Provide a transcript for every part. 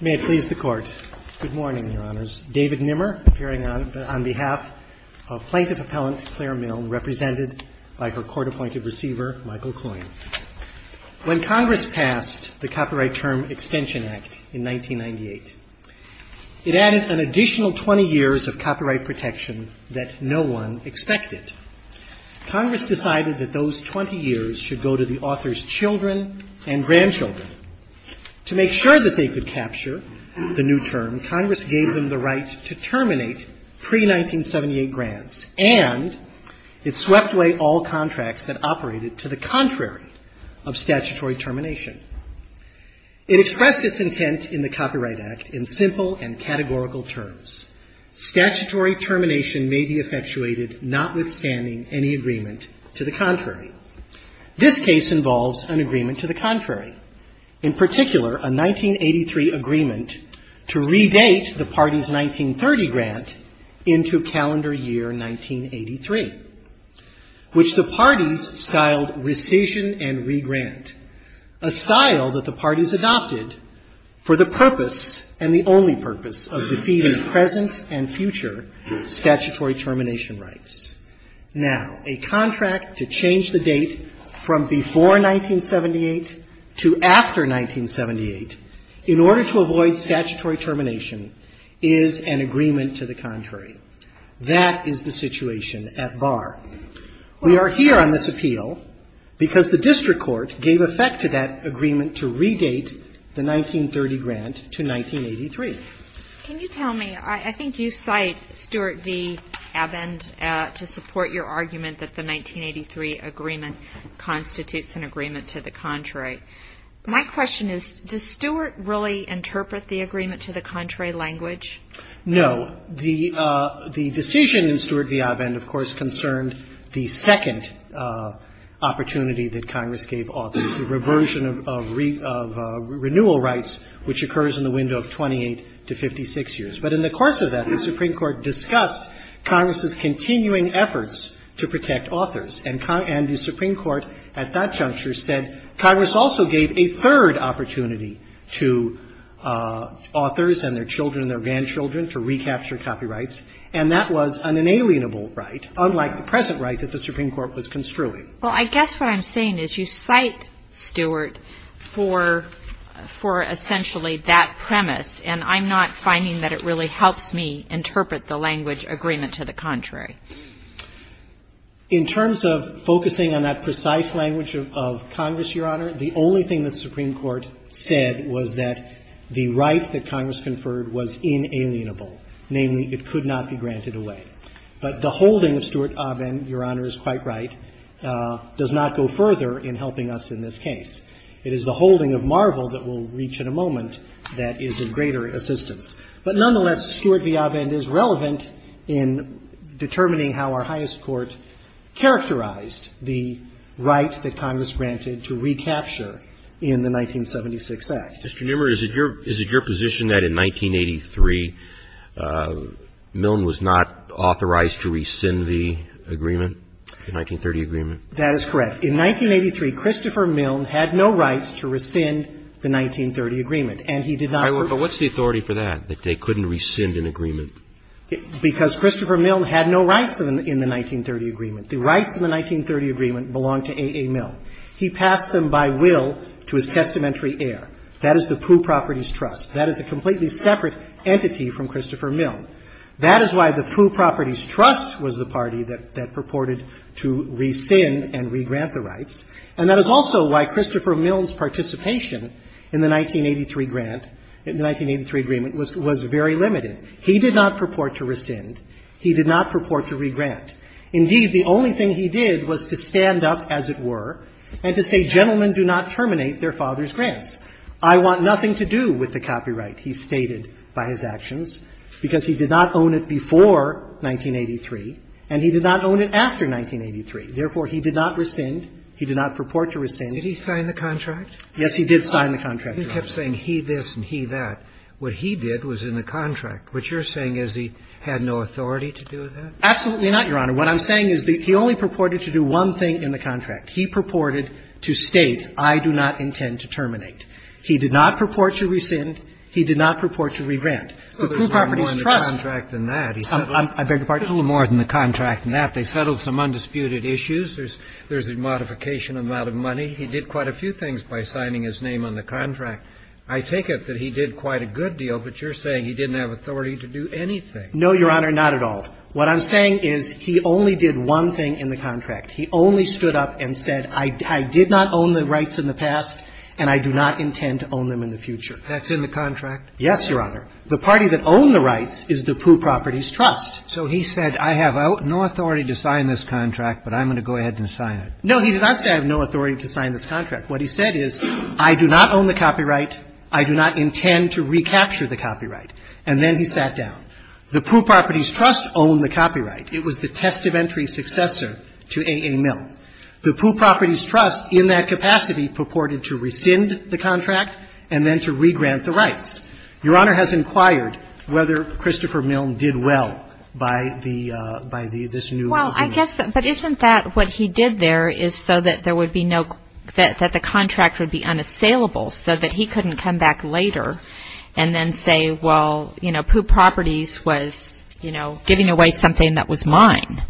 May it please the Court. Good morning, Your Honors. David Nimmer, appearing on behalf of Plaintiff Appellant Claire Milne, represented by her Court-Appointed Receiver Michael Coyne. When Congress passed the Copyright Term Extension Act in 1998, it added an additional 20 years of copyright protection that no one expected. Congress decided that those 20 years should go to the author's children and grandchildren. To make sure that they could capture the new term, Congress gave them the right to terminate pre-1978 grants, and it swept away all contracts that operated to the contrary of statutory termination. It expressed its intent in the Copyright Act in simple and categorical terms. Statutory termination may be effectuated notwithstanding any agreement to the contrary. This case involves an agreement to the contrary, in particular, a 1983 agreement to redate the party's 1930 grant into calendar year 1983, which the parties styled rescission and regrant, a style that the parties adopted for the purpose and the only purpose of defeating the present and future statutory termination rights. Now, a contract to change the date from before 1978 to after 1978 in order to avoid statutory termination is an agreement to the contrary. That is the situation at bar. We are here on this appeal because the district court gave effect to that agreement to redate the 1930 grant to 1983. Can you tell me, I think you cite Stewart v. Avend to support your argument that the 1983 agreement constitutes an agreement to the contrary. My question is, does Stewart really interpret the agreement to the contrary language? No. The decision in Stewart v. Avend, of course, concerned the second opportunity that Congress gave authors, the reversion of renewal rights, which occurs in the window of 28 to 56 years. But in the course of that, the Supreme Court discussed Congress's continuing efforts to protect authors. And the Supreme Court at that juncture said Congress also gave a third opportunity to authors and their children and their grandchildren to recapture copyrights. And that was an inalienable right, unlike the present right that the Supreme Court was construing. Well, I guess what I'm saying is you cite Stewart for essentially that premise, and I'm not finding that it really helps me interpret the language agreement to the contrary. In terms of focusing on that precise language of Congress, Your Honor, the only thing that the Supreme Court said was that the right that Congress conferred was inalienable, namely it could not be granted away. But the holding of Stewart v. Avend, Your Honor is quite right, does not go further in helping us in this case. It is the holding of Marvel that we'll reach in a moment that is of greater assistance. But nonetheless, Stewart v. Avend is relevant in determining how Our Highest Court characterized the right that Congress granted to recapture in the 1976 Act. Mr. Newmur, is it your position that in 1983, Milne was not authorized to recapture the 1930 Act, that he was authorized to rescind the agreement, the 1930 agreement? That is correct. In 1983, Christopher Milne had no right to rescind the 1930 agreement, and he did not. All right. But what's the authority for that, that they couldn't rescind an agreement? Because Christopher Milne had no rights in the 1930 agreement. The rights of the 1930 agreement belonged to A. A. Milne. He passed them by will to his testamentary heir. That is the Pooh Properties Trust. That is a completely separate entity from Christopher Milne. That is why the Pooh Properties Trust was the party that purported to rescind and regrant the rights. And that is also why Christopher Milne's participation in the 1983 grant, in the 1983 agreement, was very limited. He did not purport to rescind. He did not purport to regrant. Indeed, the only thing he did was to stand up, as it were, and to say, gentlemen, do not terminate their father's grants. I want nothing to do with the copyright, he stated, by his actions, because he did not own it before 1983, and he did not own it after 1983. Therefore, he did not rescind. He did not purport to rescind. Did he sign the contract? Yes, he did sign the contract, Your Honor. He kept saying he this and he that. What he did was in the contract. What you're Absolutely not, Your Honor. What I'm saying is that he only purported to do one thing in the contract. He purported to state, I do not intend to terminate. He did not purport to rescind. He did not purport to regrant. The Pooh Properties Trust — A little more than the contract than that. I beg your pardon? A little more than the contract than that. They settled some undisputed issues. There's a modification amount of money. He did quite a few things by signing his name on the contract. I take it that he did quite a good deal, but you're saying he didn't have authority to do anything. No, Your Honor, not at all. What I'm saying is he only did one thing in the contract. He only stood up and said, I did not own the rights in the past, and I do not intend to own them in the future. That's in the contract? Yes, Your Honor. The party that owned the rights is the Pooh Properties Trust. So he said, I have no authority to sign this contract, but I'm going to go ahead and sign it. No, he did not say I have no authority to sign this contract. What he said is, I do not own the copyright. I do not intend to recapture the copyright. And then he sat down. The Pooh Properties Trust owned the copyright. It was the test of entry successor to A.A. Milne. The Pooh Properties Trust, in that capacity, purported to rescind the contract and then to regrant the rights. Your Honor has inquired whether Christopher Milne did well by the — by this new agreement. Well, I guess — but isn't that what he did there is so that there would be no — that the contract would be unassailable so that he couldn't come back later and then say, well, you know, Pooh Properties was, you know, giving away something that was mine.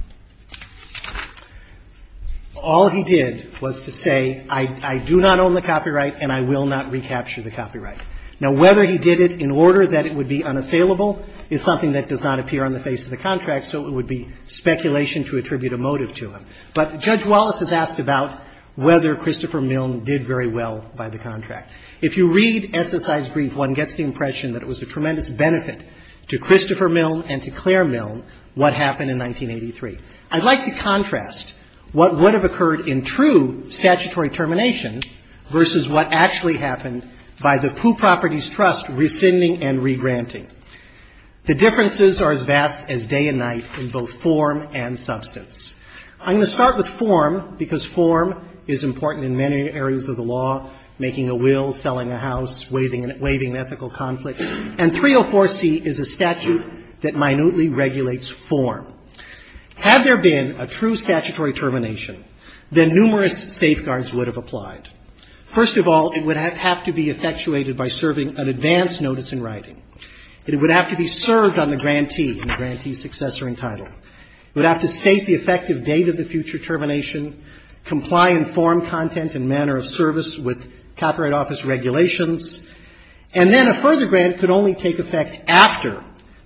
All he did was to say, I do not own the copyright and I will not recapture the copyright. Now, whether he did it in order that it would be unassailable is something that does not appear on the face of the contract, so it would be speculation to attribute a motive to him. But Judge Wallace has asked about whether Christopher Milne did very well by the contract. If you read SSI's brief, one gets the impression that it was a tremendous benefit to Christopher Milne and to Claire Milne what happened in 1983. I'd like to contrast what would have occurred in true statutory termination versus what actually happened by the Pooh Properties Trust rescinding and regranting. The differences are as vast as day and night in both form and substance. I'm going to start with form because form is important in many areas of the law, making a will, selling a house, waiving an ethical conflict. And 304C is a statute that minutely regulates form. Had there been a true statutory termination, then numerous safeguards would have applied. First of all, it would have to be effectuated by serving an advanced notice in writing. It would have to be served on the grantee and the grantee's successor in title. It would have to state the effective date of the future termination, comply in form content and manner of service with Copyright Office regulations. And then a further grant could only take effect after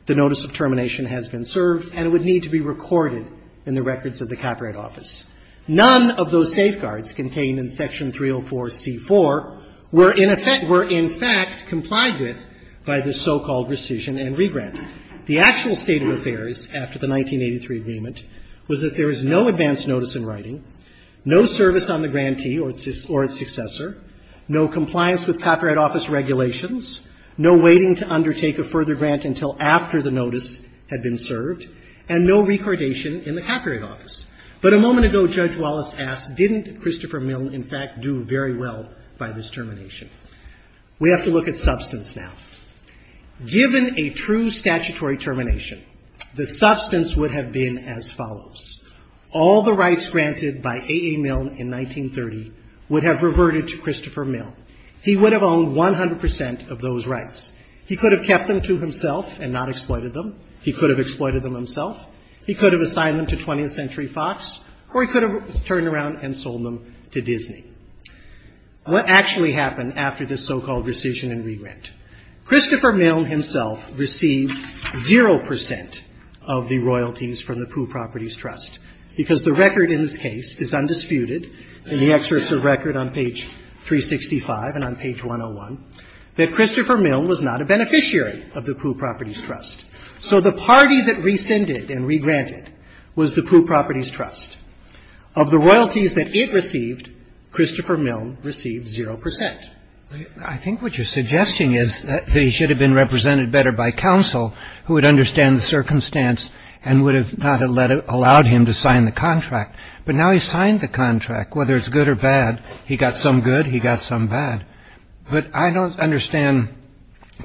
the notice of termination has been served, and it would need to be recorded in the records of the Copyright Office. None of those safeguards contained in Section 304C4 were in effect — were in fact complied with by the so-called rescission and regranting. The actual state of affairs after the 1983 agreement was that there is no advanced notice in writing, no service on the grantee or its successor, no compliance with Copyright Office regulations, no waiting to undertake a further grant until after the notice had been served, and no recordation in the Copyright Office. But a moment ago, Judge Wallace asked, didn't Christopher Milne, in fact, do very well by this termination? We have to look at substance now. Given a true statutory termination, the substance would have been as follows. All the rights granted by A. A. Milne in 1930 would have reverted to Christopher Milne. He would have owned 100 percent of those rights. He could have kept them to himself and not exploited them. He could have exploited them himself. He could have assigned them to 20th Century Fox, or he could have turned around and sold them to Disney. What actually happened after this so-called rescission and regrant? Christopher Milne himself received zero percent of the royalties from the Pooh Properties Trust, because the record in this case is undisputed in the excerpts of record on page 365 and on page 101, that Christopher Milne was not a beneficiary of the Pooh Properties Trust. So the party that rescinded and regranted was the Pooh Properties Trust. Of the royalties that it received, Christopher Milne received zero percent. I think what you're suggesting is that he should have been represented better by counsel who would understand the circumstance and would have not allowed him to sign the contract. But now he's signed the contract, whether it's good or bad. He got some good, he got some bad. But I don't understand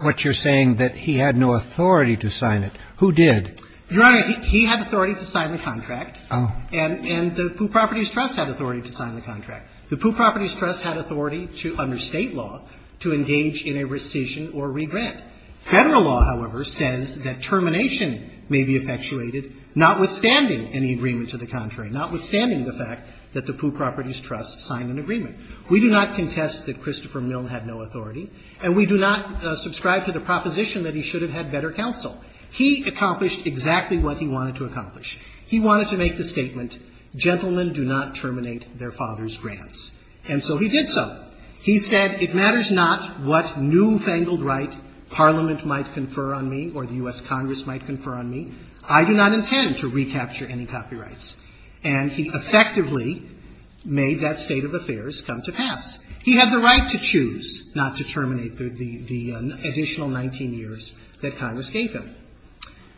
what you're saying, that he had no authority to sign it. Who did? Your Honor, he had authority to sign the contract. Oh. And the Pooh Properties Trust had authority to sign the contract. The Pooh Properties Trust had authority to, under State law, to engage in a rescission or regrant. Federal law, however, says that termination may be effectuated notwithstanding any agreement to the contrary, notwithstanding the fact that the Pooh Properties Trust signed an agreement. We do not contest that Christopher Milne had no authority, and we do not subscribe to the proposition that he should have had better counsel. He accomplished exactly what he wanted to accomplish. He wanted to make the statement, gentlemen do not terminate their father's grants. And so he did so. He said, it matters not what newfangled right Parliament might confer on me or the U.S. Congress might confer on me. I do not intend to recapture any copyrights. And he effectively made that state of affairs come to pass. He had the right to choose not to terminate the additional 19 years that Congress gave him.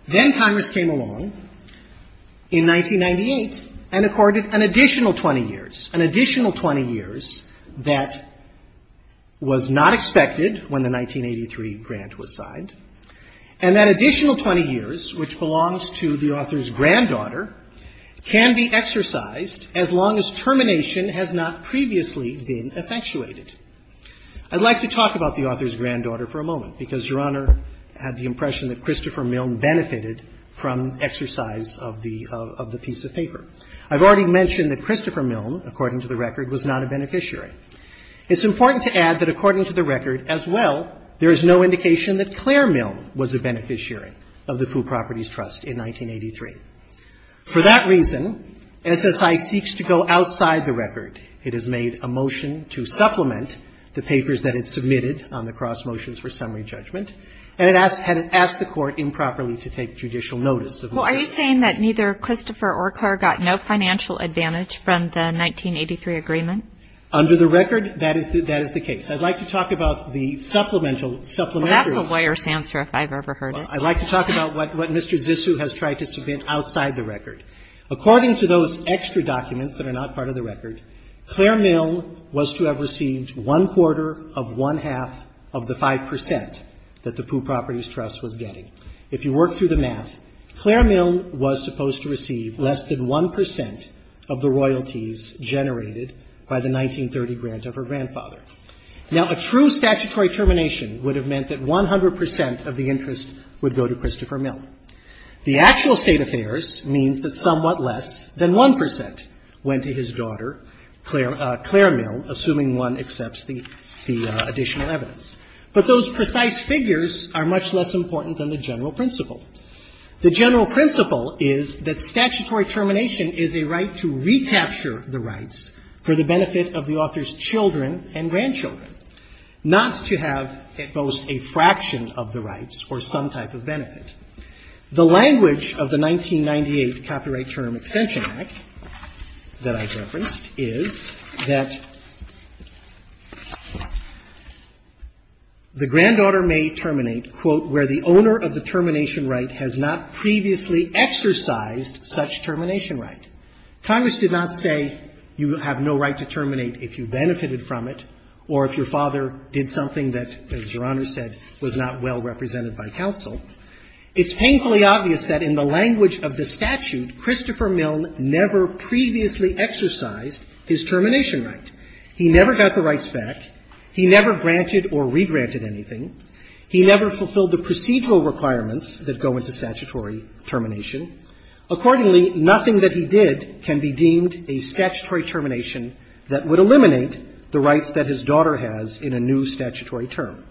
Then Congress came along in 1998 and accorded an additional 20 years, an additional 20 years that was not expected when the 1983 grant was signed, and that additional 20 years, which belongs to the author's granddaughter, can be exercised as long as termination has not previously been effectuated. I'd like to talk about the author's benefit from exercise of the piece of paper. I've already mentioned that Christopher Milne, according to the record, was not a beneficiary. It's important to add that, according to the record as well, there is no indication that Claire Milne was a beneficiary of the Foo Properties Trust in 1983. For that reason, SSI seeks to go outside the record. It has made a motion to supplement the papers that it submitted on the cross motions for summary judgment, and it has asked the Court improperly to take judicial notice. Well, are you saying that neither Christopher or Claire got no financial advantage from the 1983 agreement? Under the record, that is the case. I'd like to talk about the supplemental supplementary. That's a lawyer's answer if I've ever heard it. I'd like to talk about what Mr. Zissou has tried to submit outside the record. According to those extra documents that are not part of the record, Claire Milne was to have received one-quarter of one-half of the 5 percent that the Foo Properties Trust was getting. If you work through the math, Claire Milne was supposed to receive less than 1 percent of the royalties generated by the 1930 grant of her grandfather. Now, a true statutory termination would have meant that 100 percent of the interest would go to Christopher Milne. The actual State Affairs means that somewhat less than 1 percent went to his daughter, Claire Milne, assuming one accepts the additional evidence. But those precise figures are much less important than the general principle. The general principle is that statutory termination is a right to recapture the rights for the benefit of the author's children and grandchildren, not to have at most a fraction of the rights or some type of benefit. The language of the 1998 Copyright Term Extension Act that I referenced is that the granddaughter may terminate, quote, where the owner of the termination right has not previously exercised such termination right. Congress did not say you have no right to terminate if you benefited from it or if your father did something that, as Your It's painfully obvious that in the language of the statute, Christopher Milne never previously exercised his termination right. He never got the rights back. He never granted or regranted anything. He never fulfilled the procedural requirements that go into statutory termination. Accordingly, nothing that he did can be deemed a statutory termination that would eliminate the rights that his daughter has in a new statutory term.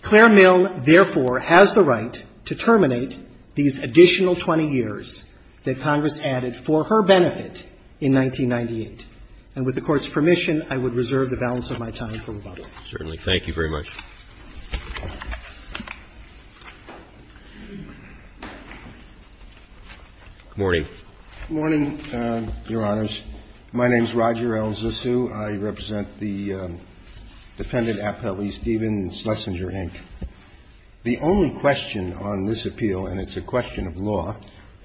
Claire Mill, therefore, has the right to terminate these additional 20 years that Congress added for her benefit in 1998. And with the Court's permission, I would reserve the balance of my time for rebuttal. Roberts. Certainly. Thank you very much. Good morning. Good morning, Your Honors. My name is Roger L. Zissou. I represent the defendant, Appellee Stephen Schlesinger, Inc. The only question on this appeal, and it's a question of law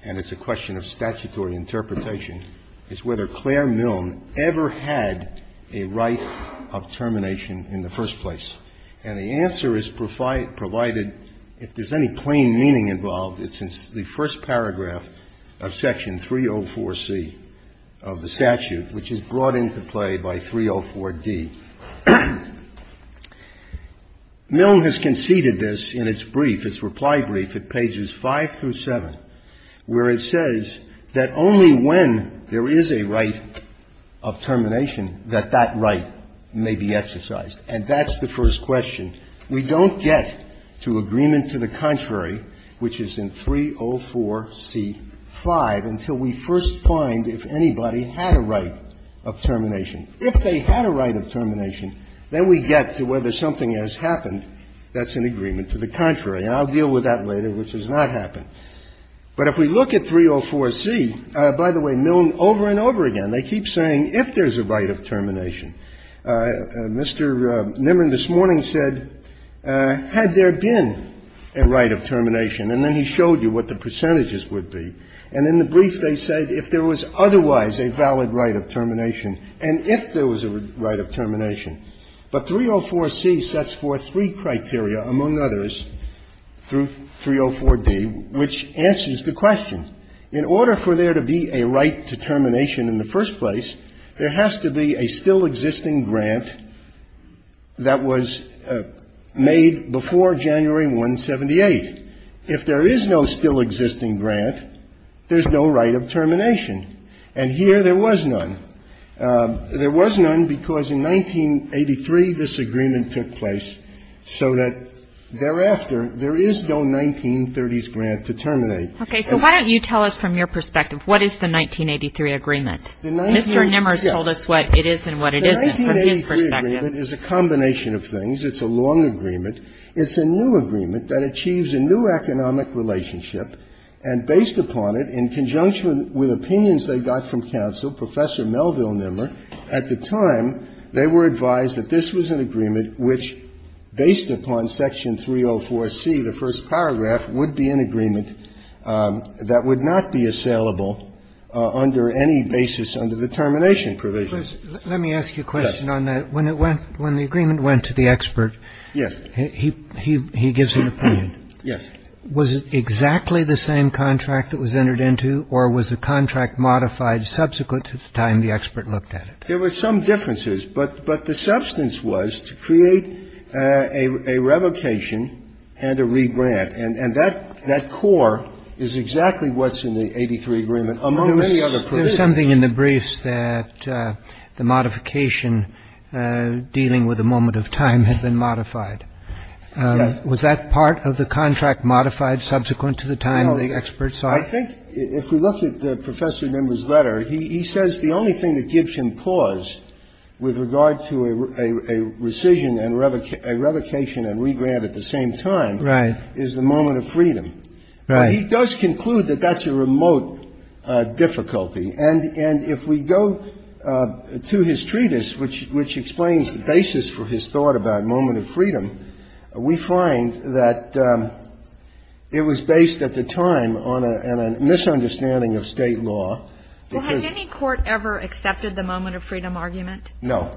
and it's a question of statutory interpretation, is whether Claire Milne ever had a right of termination in the first place. And the answer is provided if there's any plain meaning involved. It's in the first paragraph of Section 304C of the statute, which is brought into play by 304D. Milne has conceded this in its brief, its reply brief at pages 5 through 7, where it says that only when there is a right of termination that that right may be exercised. And that's the first question. We don't get to agreement to the contrary, which is in 304C.5, until we first find out if anybody had a right of termination. If they had a right of termination, then we get to whether something has happened that's in agreement to the contrary. And I'll deal with that later, which has not happened. But if we look at 304C, by the way, Milne over and over again, they keep saying if there's a right of termination. Mr. Nimrin this morning said, had there been a right of termination, and then he showed you what the percentages would be, and in the brief they said if there was otherwise a valid right of termination and if there was a right of termination. But 304C sets forth three criteria, among others, through 304D, which answers the question. In order for there to be a right to termination in the first place, there has to be a still-existing grant that was made before January 178. If there is no still-existing grant, there's no right of termination. And here there was none. There was none because in 1983, this agreement took place so that thereafter, there is no 1930s grant to terminate. Okay. So why don't you tell us from your perspective, what is the 1983 agreement? Mr. Nimrin told us what it is and what it isn't from his perspective. The 1983 agreement is a combination of things. It's a long agreement. It's a new agreement that achieves a new economic relationship, and based upon it, in conjunction with opinions they got from counsel, Professor Melville Nimmer, at the time, they were advised that this was an agreement which, based upon Section 304C, the first paragraph, would be an agreement that would not be assailable under any basis under the termination provision. Let me ask you a question on that. The agreement went to the expert. Yes. He gives an opinion. Yes. Was it exactly the same contract that was entered into, or was the contract modified subsequent to the time the expert looked at it? There were some differences. But the substance was to create a revocation and a regrant. And that core is exactly what's in the 83 agreement, among many other provisions. This is something in the briefs that the modification dealing with a moment of time had been modified. Yes. Was that part of the contract modified subsequent to the time the expert saw it? Well, I think if we look at Professor Nimmer's letter, he says the only thing that gives him pause with regard to a rescission and a revocation and regrant at the same time is the moment of freedom. Right. He does conclude that that's a remote difficulty. And if we go to his treatise, which explains the basis for his thought about moment of freedom, we find that it was based at the time on a misunderstanding of State law. Well, has any court ever accepted the moment of freedom argument? No.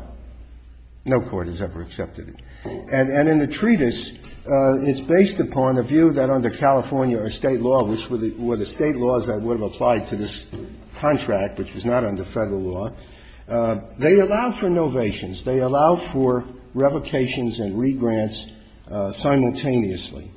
No court has ever accepted it. And in the treatise, it's based upon a view that under California or State law, which were the State laws that would have applied to this contract, which was not under Federal law, they allowed for novations. They allowed for revocations and regrants simultaneously.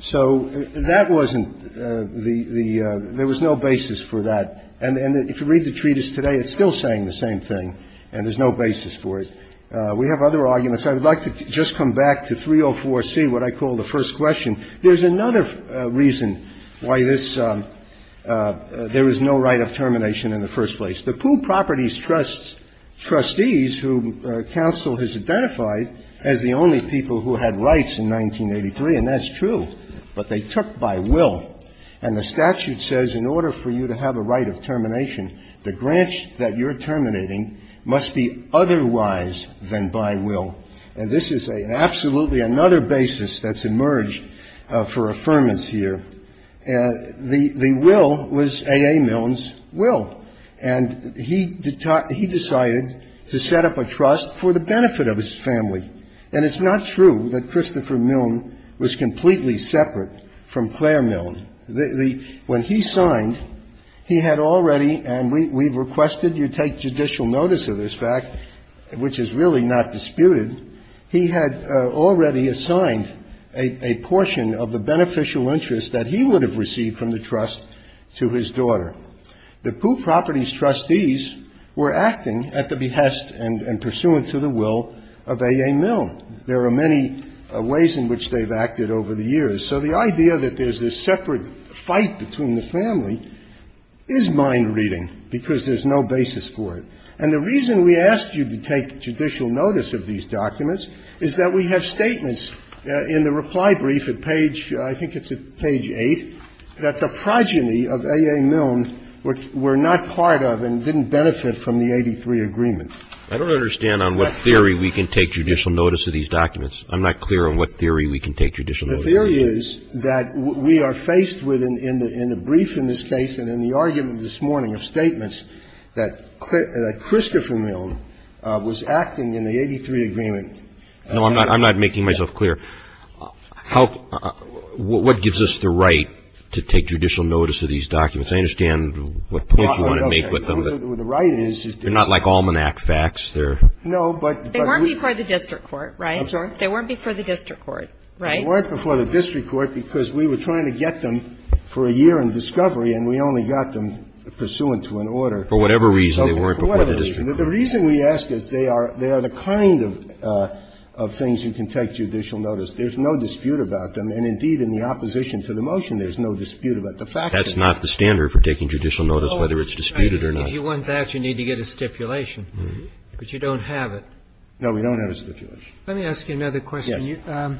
So that wasn't the – there was no basis for that. And if you read the treatise today, it's still saying the same thing, and there's no basis for it. We have other arguments. I would like to just come back to 304C, what I call the first question. There's another reason why this – there was no right of termination in the first place. The Pooh Properties Trust's trustees, whom counsel has identified as the only people who had rights in 1983, and that's true, but they took by will. And the statute says in order for you to have a right of termination, the grant that you're terminating must be otherwise than by will. And this is an absolutely another basis that's emerged for affirmance here. The will was A.A. Milne's will. And he decided to set up a trust for the benefit of his family. And it's not true that Christopher Milne was completely separate from Clare Milne. When he signed, he had already – and we've requested you take judicial notice of this fact, which is really not disputed – he had already assigned a portion of the beneficial interest that he would have received from the trust to his daughter. The Pooh Properties Trustees were acting at the behest and pursuant to the will of A.A. Milne. There are many ways in which they've acted over the years. So the idea that there's this separate fight between the family is mind-reading because there's no basis for it. And the reason we ask you to take judicial notice of these documents is that we have statements in the reply brief at page – I think it's at page 8 – that the progeny of A.A. Milne were not part of and didn't benefit from the 83 agreement. I don't understand on what theory we can take judicial notice of these documents. The theory is that we are faced with, in the brief in this case and in the argument this morning of statements, that Christopher Milne was acting in the 83 agreement. No, I'm not making myself clear. How – what gives us the right to take judicial notice of these documents? I understand what point you want to make with them. The right is – They're not like almanac facts. They're – No, but – They weren't before the district court, right? I'm sorry? They weren't before the district court, right? They weren't before the district court because we were trying to get them for a year in discovery, and we only got them pursuant to an order. For whatever reason, they weren't before the district court. The reason we ask is they are the kind of things you can take judicial notice. There's no dispute about them. And, indeed, in the opposition to the motion, there's no dispute about the fact of it. That's not the standard for taking judicial notice, whether it's disputed or not. If you want that, you need to get a stipulation. But you don't have it. No, we don't have a stipulation. Let me ask you another question. Yes.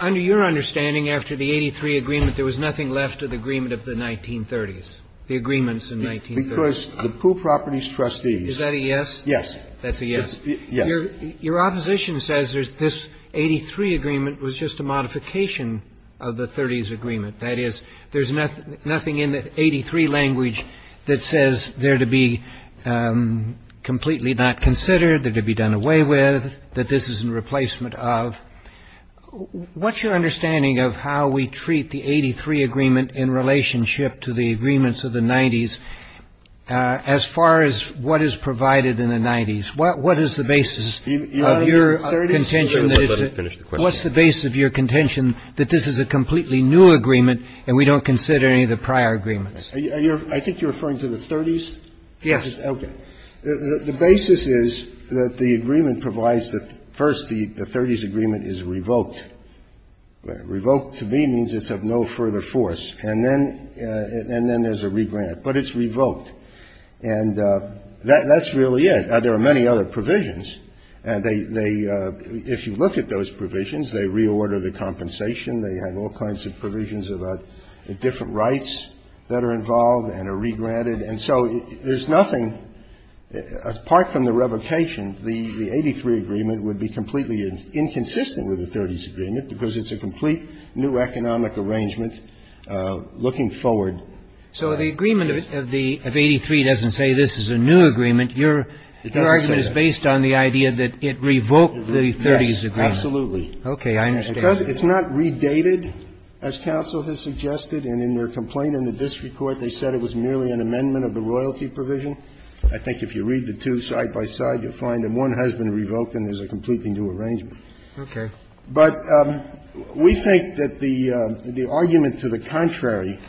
Under your understanding, after the 83 agreement, there was nothing left of the agreement of the 1930s, the agreements in 1930s. Because the Pooh Properties Trustees – Is that a yes? Yes. That's a yes? Yes. Your opposition says this 83 agreement was just a modification of the 30s agreement. That is, there's nothing in the 83 language that says they're to be completely not considered, they're to be done away with, that this is in replacement of. What's your understanding of how we treat the 83 agreement in relationship to the agreements of the 90s as far as what is provided in the 90s? What is the basis of your contention that it's a – You mean the 30s? Let me finish the question. What's the basis of your contention that this is a completely new agreement and we don't consider any of the prior agreements? I think you're referring to the 30s? Yes. Okay. The basis is that the agreement provides that, first, the 30s agreement is revoked. Revoked, to me, means it's of no further force. And then there's a regrant. But it's revoked. And that's really it. There are many other provisions. And they – if you look at those provisions, they reorder the compensation. They have all kinds of provisions about the different rights that are involved and are regranted. And so there's nothing – apart from the revocation, the 83 agreement would be completely inconsistent with the 30s agreement because it's a complete new economic arrangement looking forward. So the agreement of the – of 83 doesn't say this is a new agreement. Your argument is based on the idea that it revoked the 30s agreement. Yes. Absolutely. Okay. I understand. Because it's not redated, as counsel has suggested. And in their complaint in the district court, they said it was merely an amendment of the royalty provision. I think if you read the two side by side, you'll find that one has been revoked and there's a completely new arrangement. Okay. But we think that the argument to the contrary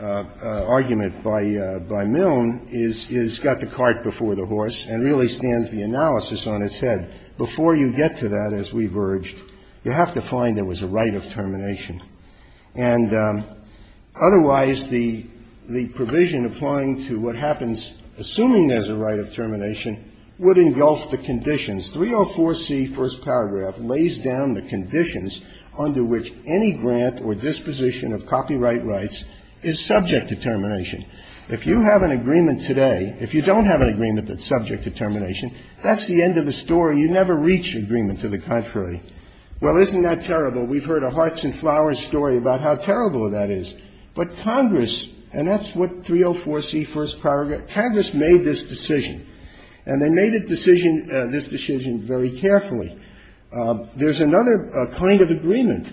argument by Milne is it's got the cart before the horse and really stands the analysis on its head. Before you get to that, as we've urged, you have to find there was a right of termination. And otherwise, the provision applying to what happens, assuming there's a right of termination, would engulf the conditions. 304C, first paragraph, lays down the conditions under which any grant or disposition of copyright rights is subject to termination. If you have an agreement today, if you don't have an agreement that's subject to termination, that's the end of the story. You never reach agreement to the contrary. Well, isn't that terrible? We've heard a hearts and flowers story about how terrible that is. But Congress, and that's what 304C, first paragraph, Congress made this decision. And they made this decision very carefully. There's another kind of agreement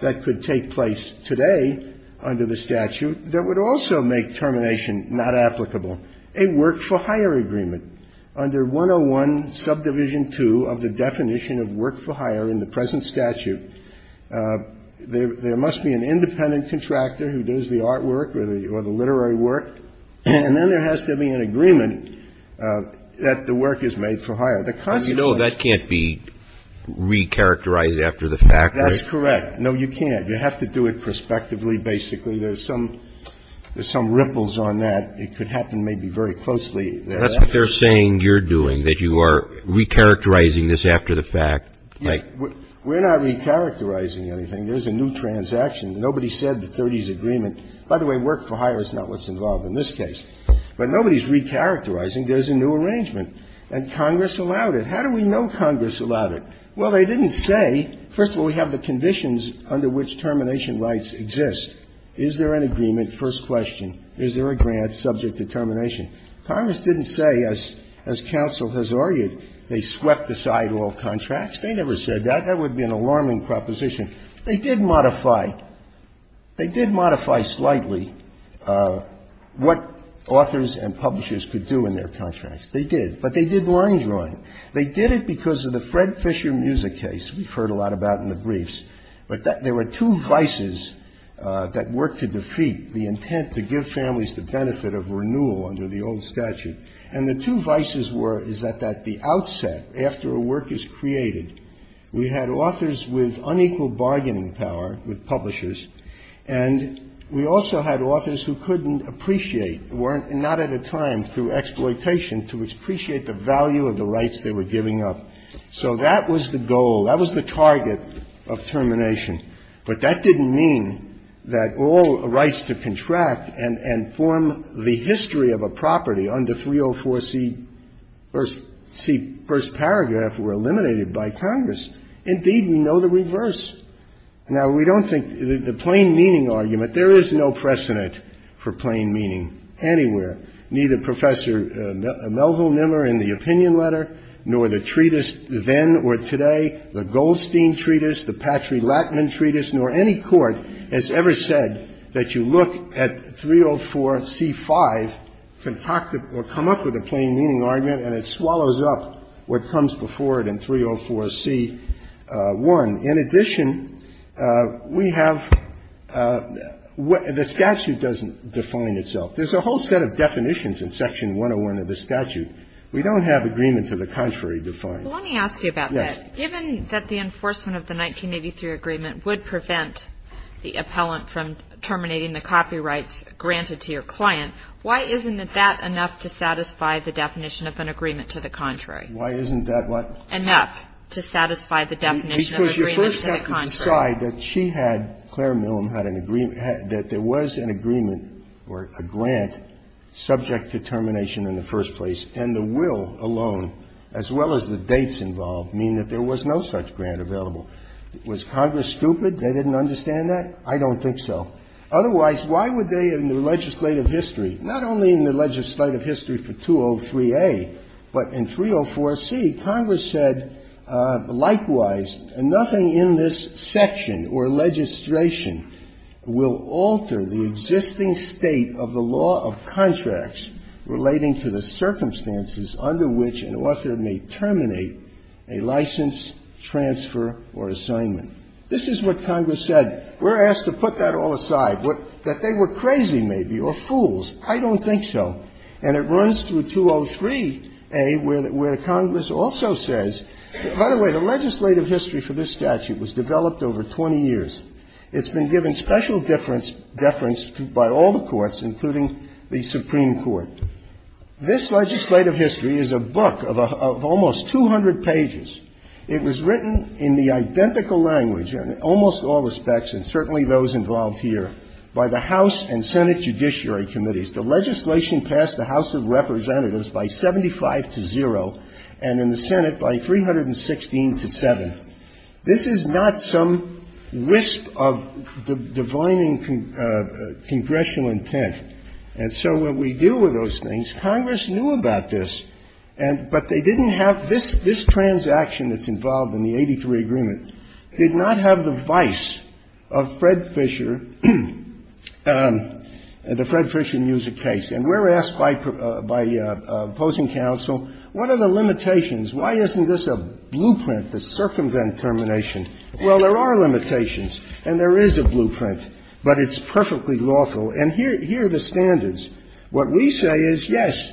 that could take place today under the statute that would also make termination not applicable, a work-for-hire agreement. Under 101, subdivision 2 of the definition of work-for-hire in the present statute, there must be an independent contractor who does the artwork or the literary work, and then there has to be an agreement that the work is made for hire. The consequence of that is that the work is made for hire. And you know that can't be recharacterized after the fact, right? That's correct. No, you can't. You have to do it prospectively, basically. There's some ripples on that. It could happen maybe very closely. That's what they're saying you're doing, that you are recharacterizing this after the fact. We're not recharacterizing anything. There's a new transaction. Nobody said the 30s agreement. By the way, work-for-hire is not what's involved in this case. But nobody's recharacterizing. There's a new arrangement. And Congress allowed it. How do we know Congress allowed it? Well, they didn't say, first of all, we have the conditions under which termination rights exist. Is there an agreement, first question. Is there a grant subject to termination? Congress didn't say, as counsel has argued, they swept aside all contracts. They never said that. That would be an alarming proposition. They did modify. They did modify slightly what authors and publishers could do in their contracts. They did. But they did line drawing. They did it because of the Fred Fisher Musa case we've heard a lot about in the briefs. But there were two vices that worked to defeat the intent to give families the benefit of renewal under the old statute. And the two vices were is that at the outset, after a work is created, we had authors with unequal bargaining power with publishers. And we also had authors who couldn't appreciate, were not at a time through exploitation to appreciate the value of the rights they were giving up. So that was the goal. That was the target of termination. But that didn't mean that all rights to contract and form the history of a property under 304C first paragraph were eliminated by Congress. Indeed, we know the reverse. Now, we don't think the plain meaning argument, there is no precedent for plain meaning anywhere, neither Professor Melville Nimmer in the opinion letter, nor the treatise then or today, the Goldstein treatise, the Patry-Lachman treatise, nor any court has ever said that you look at 304C5, concoct it or come up with a plain meaning argument, and it swallows up what comes before it in 304C1. In addition, we have the statute doesn't define itself. There's a whole set of definitions in section 101 of the statute. We don't have agreement to the contrary defined. Yes. Kagan. Well, let me ask you about that. Given that the enforcement of the 1983 agreement would prevent the appellant from terminating the copyrights granted to your client, why isn't that enough to satisfy the definition of an agreement to the contrary? Why isn't that what? Enough to satisfy the definition of an agreement to the contrary. Well, let's decide that she had, Claire Millam had an agreement, that there was an agreement or a grant subject to termination in the first place, and the will alone, as well as the dates involved, mean that there was no such grant available. Was Congress stupid? They didn't understand that? I don't think so. Otherwise, why would they in the legislative history, not only in the legislative history for 203A, but in 304C, Congress said, likewise, nothing in this section or legislation will alter the existing state of the law of contracts relating to the circumstances under which an author may terminate a license transfer or assignment. This is what Congress said. We're asked to put that all aside, that they were crazy, maybe, or fools. I don't think so. And it runs through 203A, where the Congress also says that, by the way, the legislative history for this statute was developed over 20 years. It's been given special deference by all the courts, including the Supreme Court. This legislative history is a book of almost 200 pages. It was written in the identical language in almost all respects, and certainly those involved here, by the House and Senate Judiciary Committees. The legislation passed the House of Representatives by 75 to 0, and in the Senate by 316 to 7. This is not some wisp of divining congressional intent. And so what we do with those things, Congress knew about this, but they didn't have this transaction that's involved in the 83 agreement, did not have the vice of Fred Fisher, the Fred Fisher Music case. And we're asked by opposing counsel, what are the limitations? Why isn't this a blueprint to circumvent termination? Well, there are limitations, and there is a blueprint, but it's perfectly lawful. And here are the standards. What we say is, yes,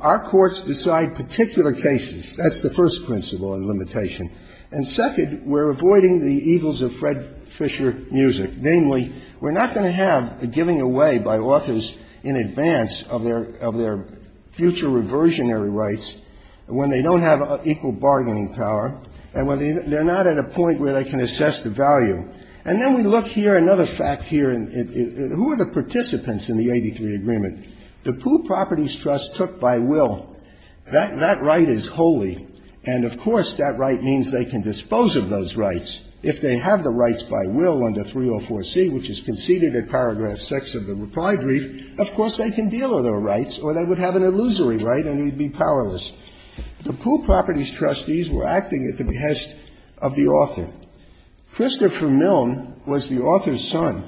our courts decide particular cases. That's the first principle and limitation. And second, we're avoiding the evils of Fred Fisher Music, namely, we're not going to have a giving away by authors in advance of their future reversionary rights when they don't have equal bargaining power and when they're not at a point where they can assess the value. And then we look here, another fact here. Who are the participants in the 83 agreement? The Pooh Properties Trust took by will. That right is holy. And, of course, that right means they can dispose of those rights. If they have the rights by will under 304C, which is conceded at paragraph 6 of the reply brief, of course, they can deal with their rights or they would have an illusory right and they would be powerless. The Pooh Properties Trustees were acting at the behest of the author. Christopher Milne was the author's son.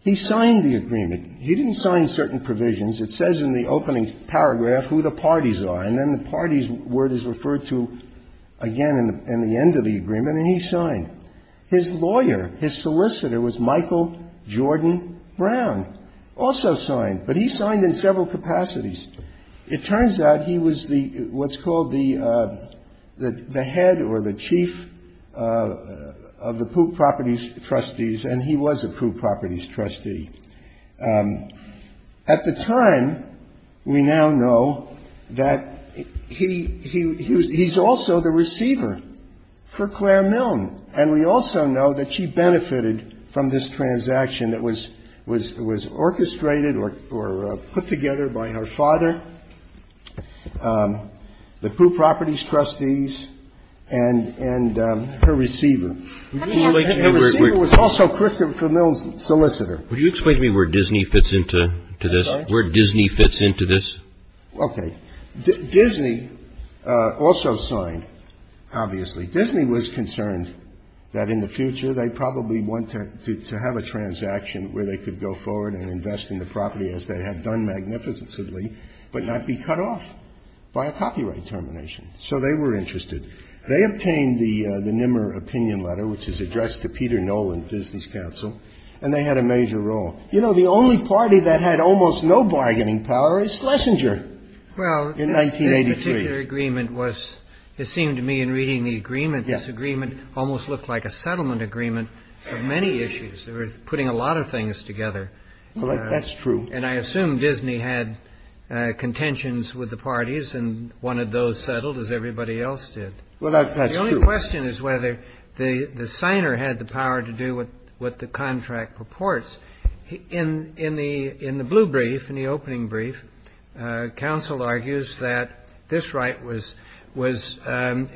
He signed the agreement. He didn't sign certain provisions. It says in the opening paragraph who the parties are. And then the parties word is referred to again in the end of the agreement, and he signed. His lawyer, his solicitor was Michael Jordan Brown, also signed. But he signed in several capacities. It turns out he was what's called the head or the chief of the Pooh Properties Trustees, and he was a Pooh Properties trustee. At the time, we now know that he's also the receiver for Claire Milne, and we also know that she benefited from this transaction that was orchestrated or put together by her father, the Pooh Properties Trustees, and her receiver. Her receiver was also Christopher Milne's solicitor. Would you explain to me where Disney fits into this? Where Disney fits into this? Okay. Disney also signed, obviously. Disney was concerned that in the future they'd probably want to have a transaction where they could go forward and invest in the property as they had done magnificently but not be cut off by a copyright termination. So they were interested. They obtained the Nimmer opinion letter, which is addressed to Peter Nolan, business counsel, and they had a major role. You know, the only party that had almost no bargaining power is Schlesinger in 1983. Well, this particular agreement was, it seemed to me in reading the agreement, this agreement almost looked like a settlement agreement for many issues. They were putting a lot of things together. Well, that's true. And I assume Disney had contentions with the parties and wanted those settled as everybody else did. Well, that's true. The only question is whether the signer had the power to do what the contract purports. In the blue brief, in the opening brief, counsel argues that this right was invalid,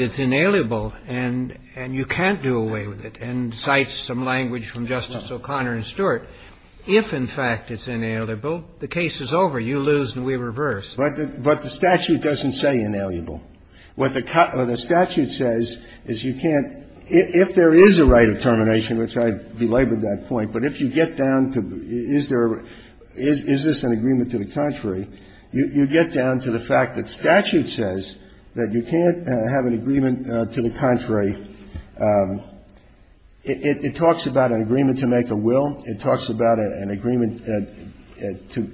it's inalienable, and you can't do away with it. And in the blue brief, in the opening brief, counsel argues that this right is invalid, and cites some language from Justice O'Connor and Stewart, if in fact it's inalienable, the case is over, you lose and we reverse. But the statute doesn't say inalienable. What the statute says is you can't – if there is a right of termination, which I belabored that point, but if you get down to is there – is this an agreement to the contrary, you get down to the fact that statute says that you can't have an agreement to the contrary. It talks about an agreement to make a will. It talks about an agreement to make a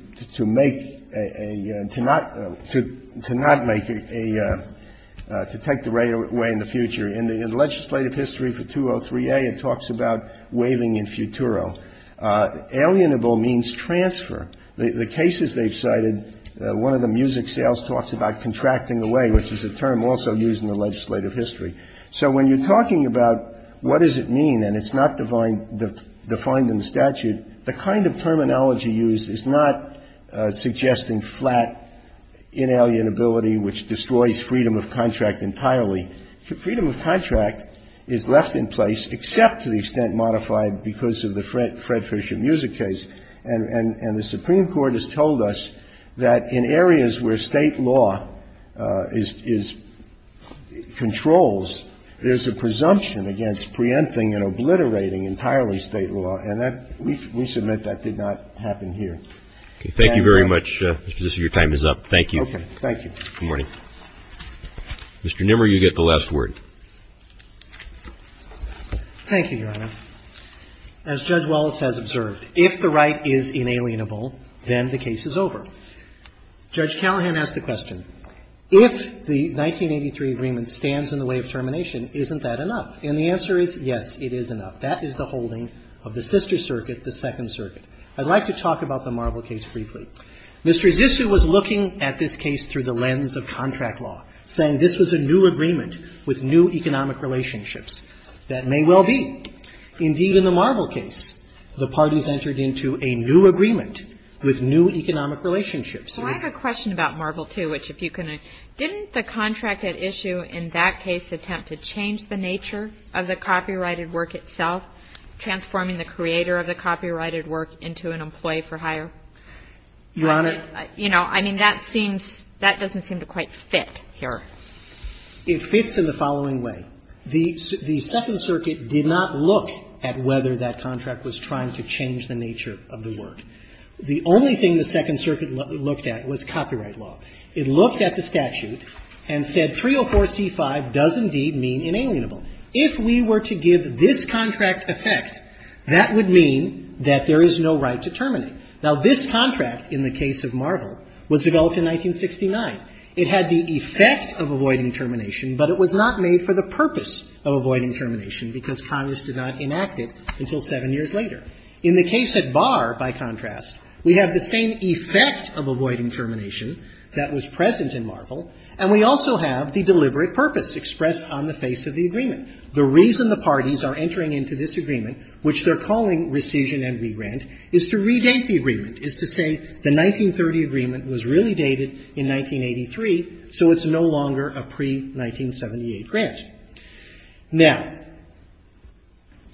– to not make a – to take the right away in the future. In the legislative history for 203A, it talks about waiving in futuro. Alienable means transfer. The cases they've cited, one of the music sales talks about contracting away, which is a term also used in the legislative history. So when you're talking about what does it mean, and it's not defined in the statute, the kind of terminology used is not suggesting flat inalienability, which destroys freedom of contract entirely. Freedom of contract is left in place, except to the extent modified because of the Fred Fischer music case. And the Supreme Court has told us that in areas where State law is – controls, there's a presumption against preempting and obliterating entirely State law. And that – we submit that did not happen here. Okay. Thank you very much. Justice, your time is up. Thank you. Okay. Thank you. Good morning. Mr. Nimmer, you get the last word. Thank you, Your Honor. As Judge Wallace has observed, if the right is inalienable, then the case is over. Judge Callahan asked a question. If the 1983 agreement stands in the way of termination, isn't that enough? And the answer is, yes, it is enough. That is the holding of the sister circuit, the Second Circuit. I'd like to talk about the Marble case briefly. Mr. Zissou was looking at this case through the lens of contract law, saying this was a new agreement with new economic relationships. That may well be. Indeed, in the Marble case, the parties entered into a new agreement with new economic relationships. Well, I have a question about Marble, too, which if you can – didn't the contract at issue in that case attempt to change the nature of the copyrighted work itself, transforming the creator of the copyrighted work into an employee for hire? Your Honor. You know, I mean, that seems – that doesn't seem to quite fit here. It fits in the following way. The Second Circuit did not look at whether that contract was trying to change the nature of the work. The only thing the Second Circuit looked at was copyright law. It looked at the statute and said 304c5 does indeed mean inalienable. If we were to give this contract effect, that would mean that there is no right to terminate. Now, this contract in the case of Marble was developed in 1969. It had the effect of avoiding termination, but it was not made for the purpose of avoiding termination because Congress did not enact it until seven years later. In the case at Bar, by contrast, we have the same effect of avoiding termination that was present in Marble, and we also have the deliberate purpose expressed on the face of the agreement. The reason the parties are entering into this agreement, which they're calling rescission and regrant, is to redate the agreement, is to say the 1930 agreement was really dated in 1983, so it's no longer a pre-1978 grant. Now,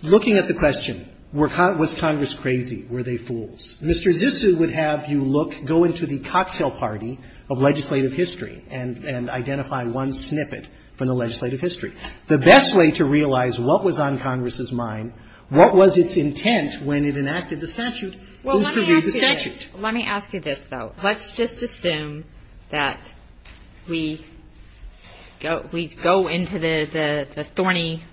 looking at the question, was Congress crazy? Were they fools? Mr. Zissou would have you look, go into the cocktail party of legislative history and identify one snippet from the legislative history. The best way to realize what was on Congress's mind, what was its intent when it enacted the statute, is to review the statute. Let me ask you this, though. Let's just assume that we go into the thorny,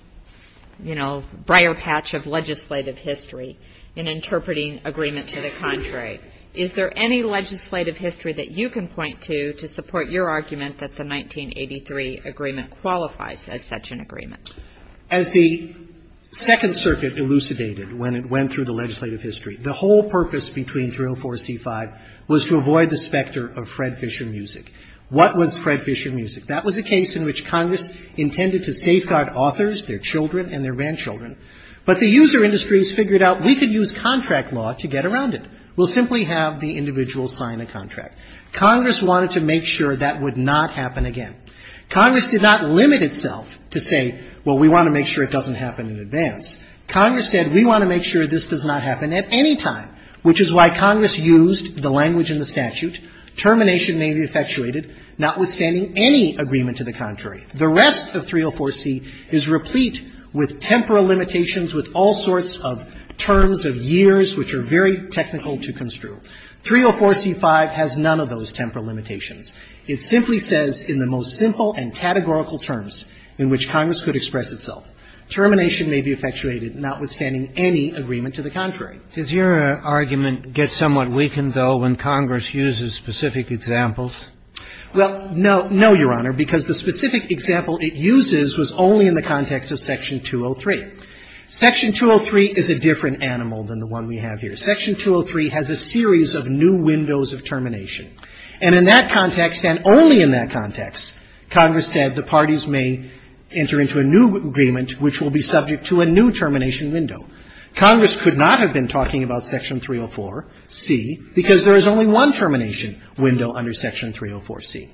you know, briar patch of legislative history in interpreting agreement to the contrary. Is there any legislative history that you can point to to support your argument that the 1983 agreement qualifies as such an agreement? As the Second Circuit elucidated when it went through the legislative history, the whole purpose between 304 and C-5 was to avoid the specter of Fred Fischer music. What was Fred Fischer music? That was a case in which Congress intended to safeguard authors, their children and their grandchildren, but the user industries figured out we could use contract law to get around it. We'll simply have the individual sign a contract. Congress wanted to make sure that would not happen again. Congress did not limit itself to say, well, we want to make sure it doesn't happen in advance. Congress said we want to make sure this does not happen at any time, which is why Congress used the language in the statute. Termination may be effectuated notwithstanding any agreement to the contrary. The rest of 304C is replete with temporal limitations, with all sorts of terms of years which are very technical to construe. 304C-5 has none of those temporal limitations. It simply says in the most simple and categorical terms in which Congress could express itself. Termination may be effectuated notwithstanding any agreement to the contrary. Does your argument get somewhat weakened, though, when Congress uses specific examples? Well, no. No, Your Honor, because the specific example it uses was only in the context of Section 203. Section 203 is a different animal than the one we have here. Section 203 has a series of new windows of termination. And in that context, and only in that context, Congress said the parties may enter into a new agreement which will be subject to a new termination window. Congress could not have been talking about Section 304C because there is only one termination window under Section 304C.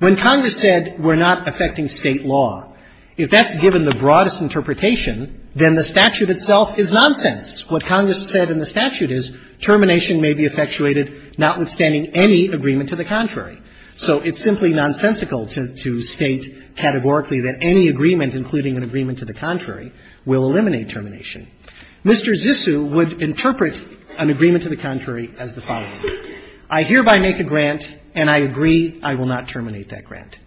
When Congress said we're not affecting State law, if that's given the broadest interpretation, then the statute itself is nonsense. What Congress said in the statute is termination may be effectuated notwithstanding any agreement to the contrary. So it's simply nonsensical to state categorically that any agreement, including an agreement to the contrary, will eliminate termination. Mr. Zissou would interpret an agreement to the contrary as the following. I hereby make a grant, and I agree I will not terminate that grant.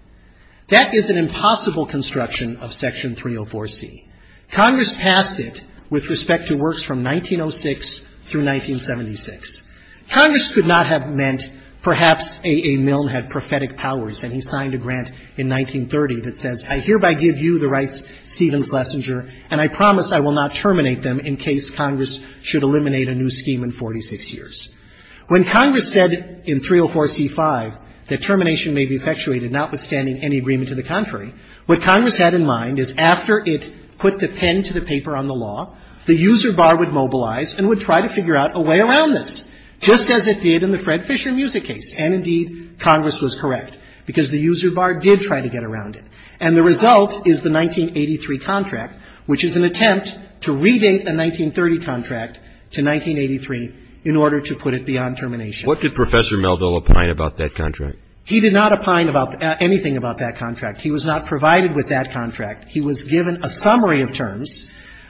That is an impossible construction of Section 304C. Congress passed it with respect to works from 1906 through 1976. Congress could not have meant perhaps A. A. Milne had prophetic powers and he signed a grant in 1930 that says I hereby give you the rights, Stevens-Lessinger, and I promise I will not terminate them in case Congress should eliminate a new scheme in 46 years. When Congress said in 304C-5 that termination may be effectuated notwithstanding any agreement to the contrary, what Congress had in mind is after it put the pen to paper on the law, the user bar would mobilize and would try to figure out a way around this, just as it did in the Fred Fisher Music case. And indeed, Congress was correct, because the user bar did try to get around it. And the result is the 1983 contract, which is an attempt to redate the 1930 contract to 1983 in order to put it beyond termination. What did Professor Melville opine about that contract? He did not opine about anything about that contract. He was not provided with that contract. He was given a summary of terms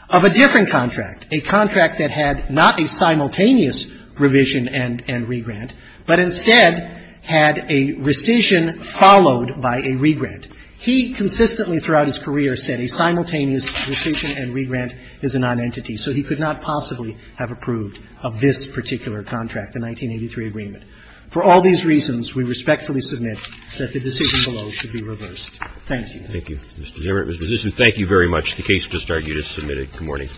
of a different contract, a contract that had not a simultaneous revision and regrant, but instead had a rescission followed by a regrant. He consistently throughout his career said a simultaneous rescission and regrant is a nonentity. So he could not possibly have approved of this particular contract, the 1983 agreement. For all these reasons, we respectfully submit that the decision below should be reversed. Thank you. Thank you, Mr. Zimmer. Mr. Zissin, thank you very much. The case has just started. You just submitted it. Good morning.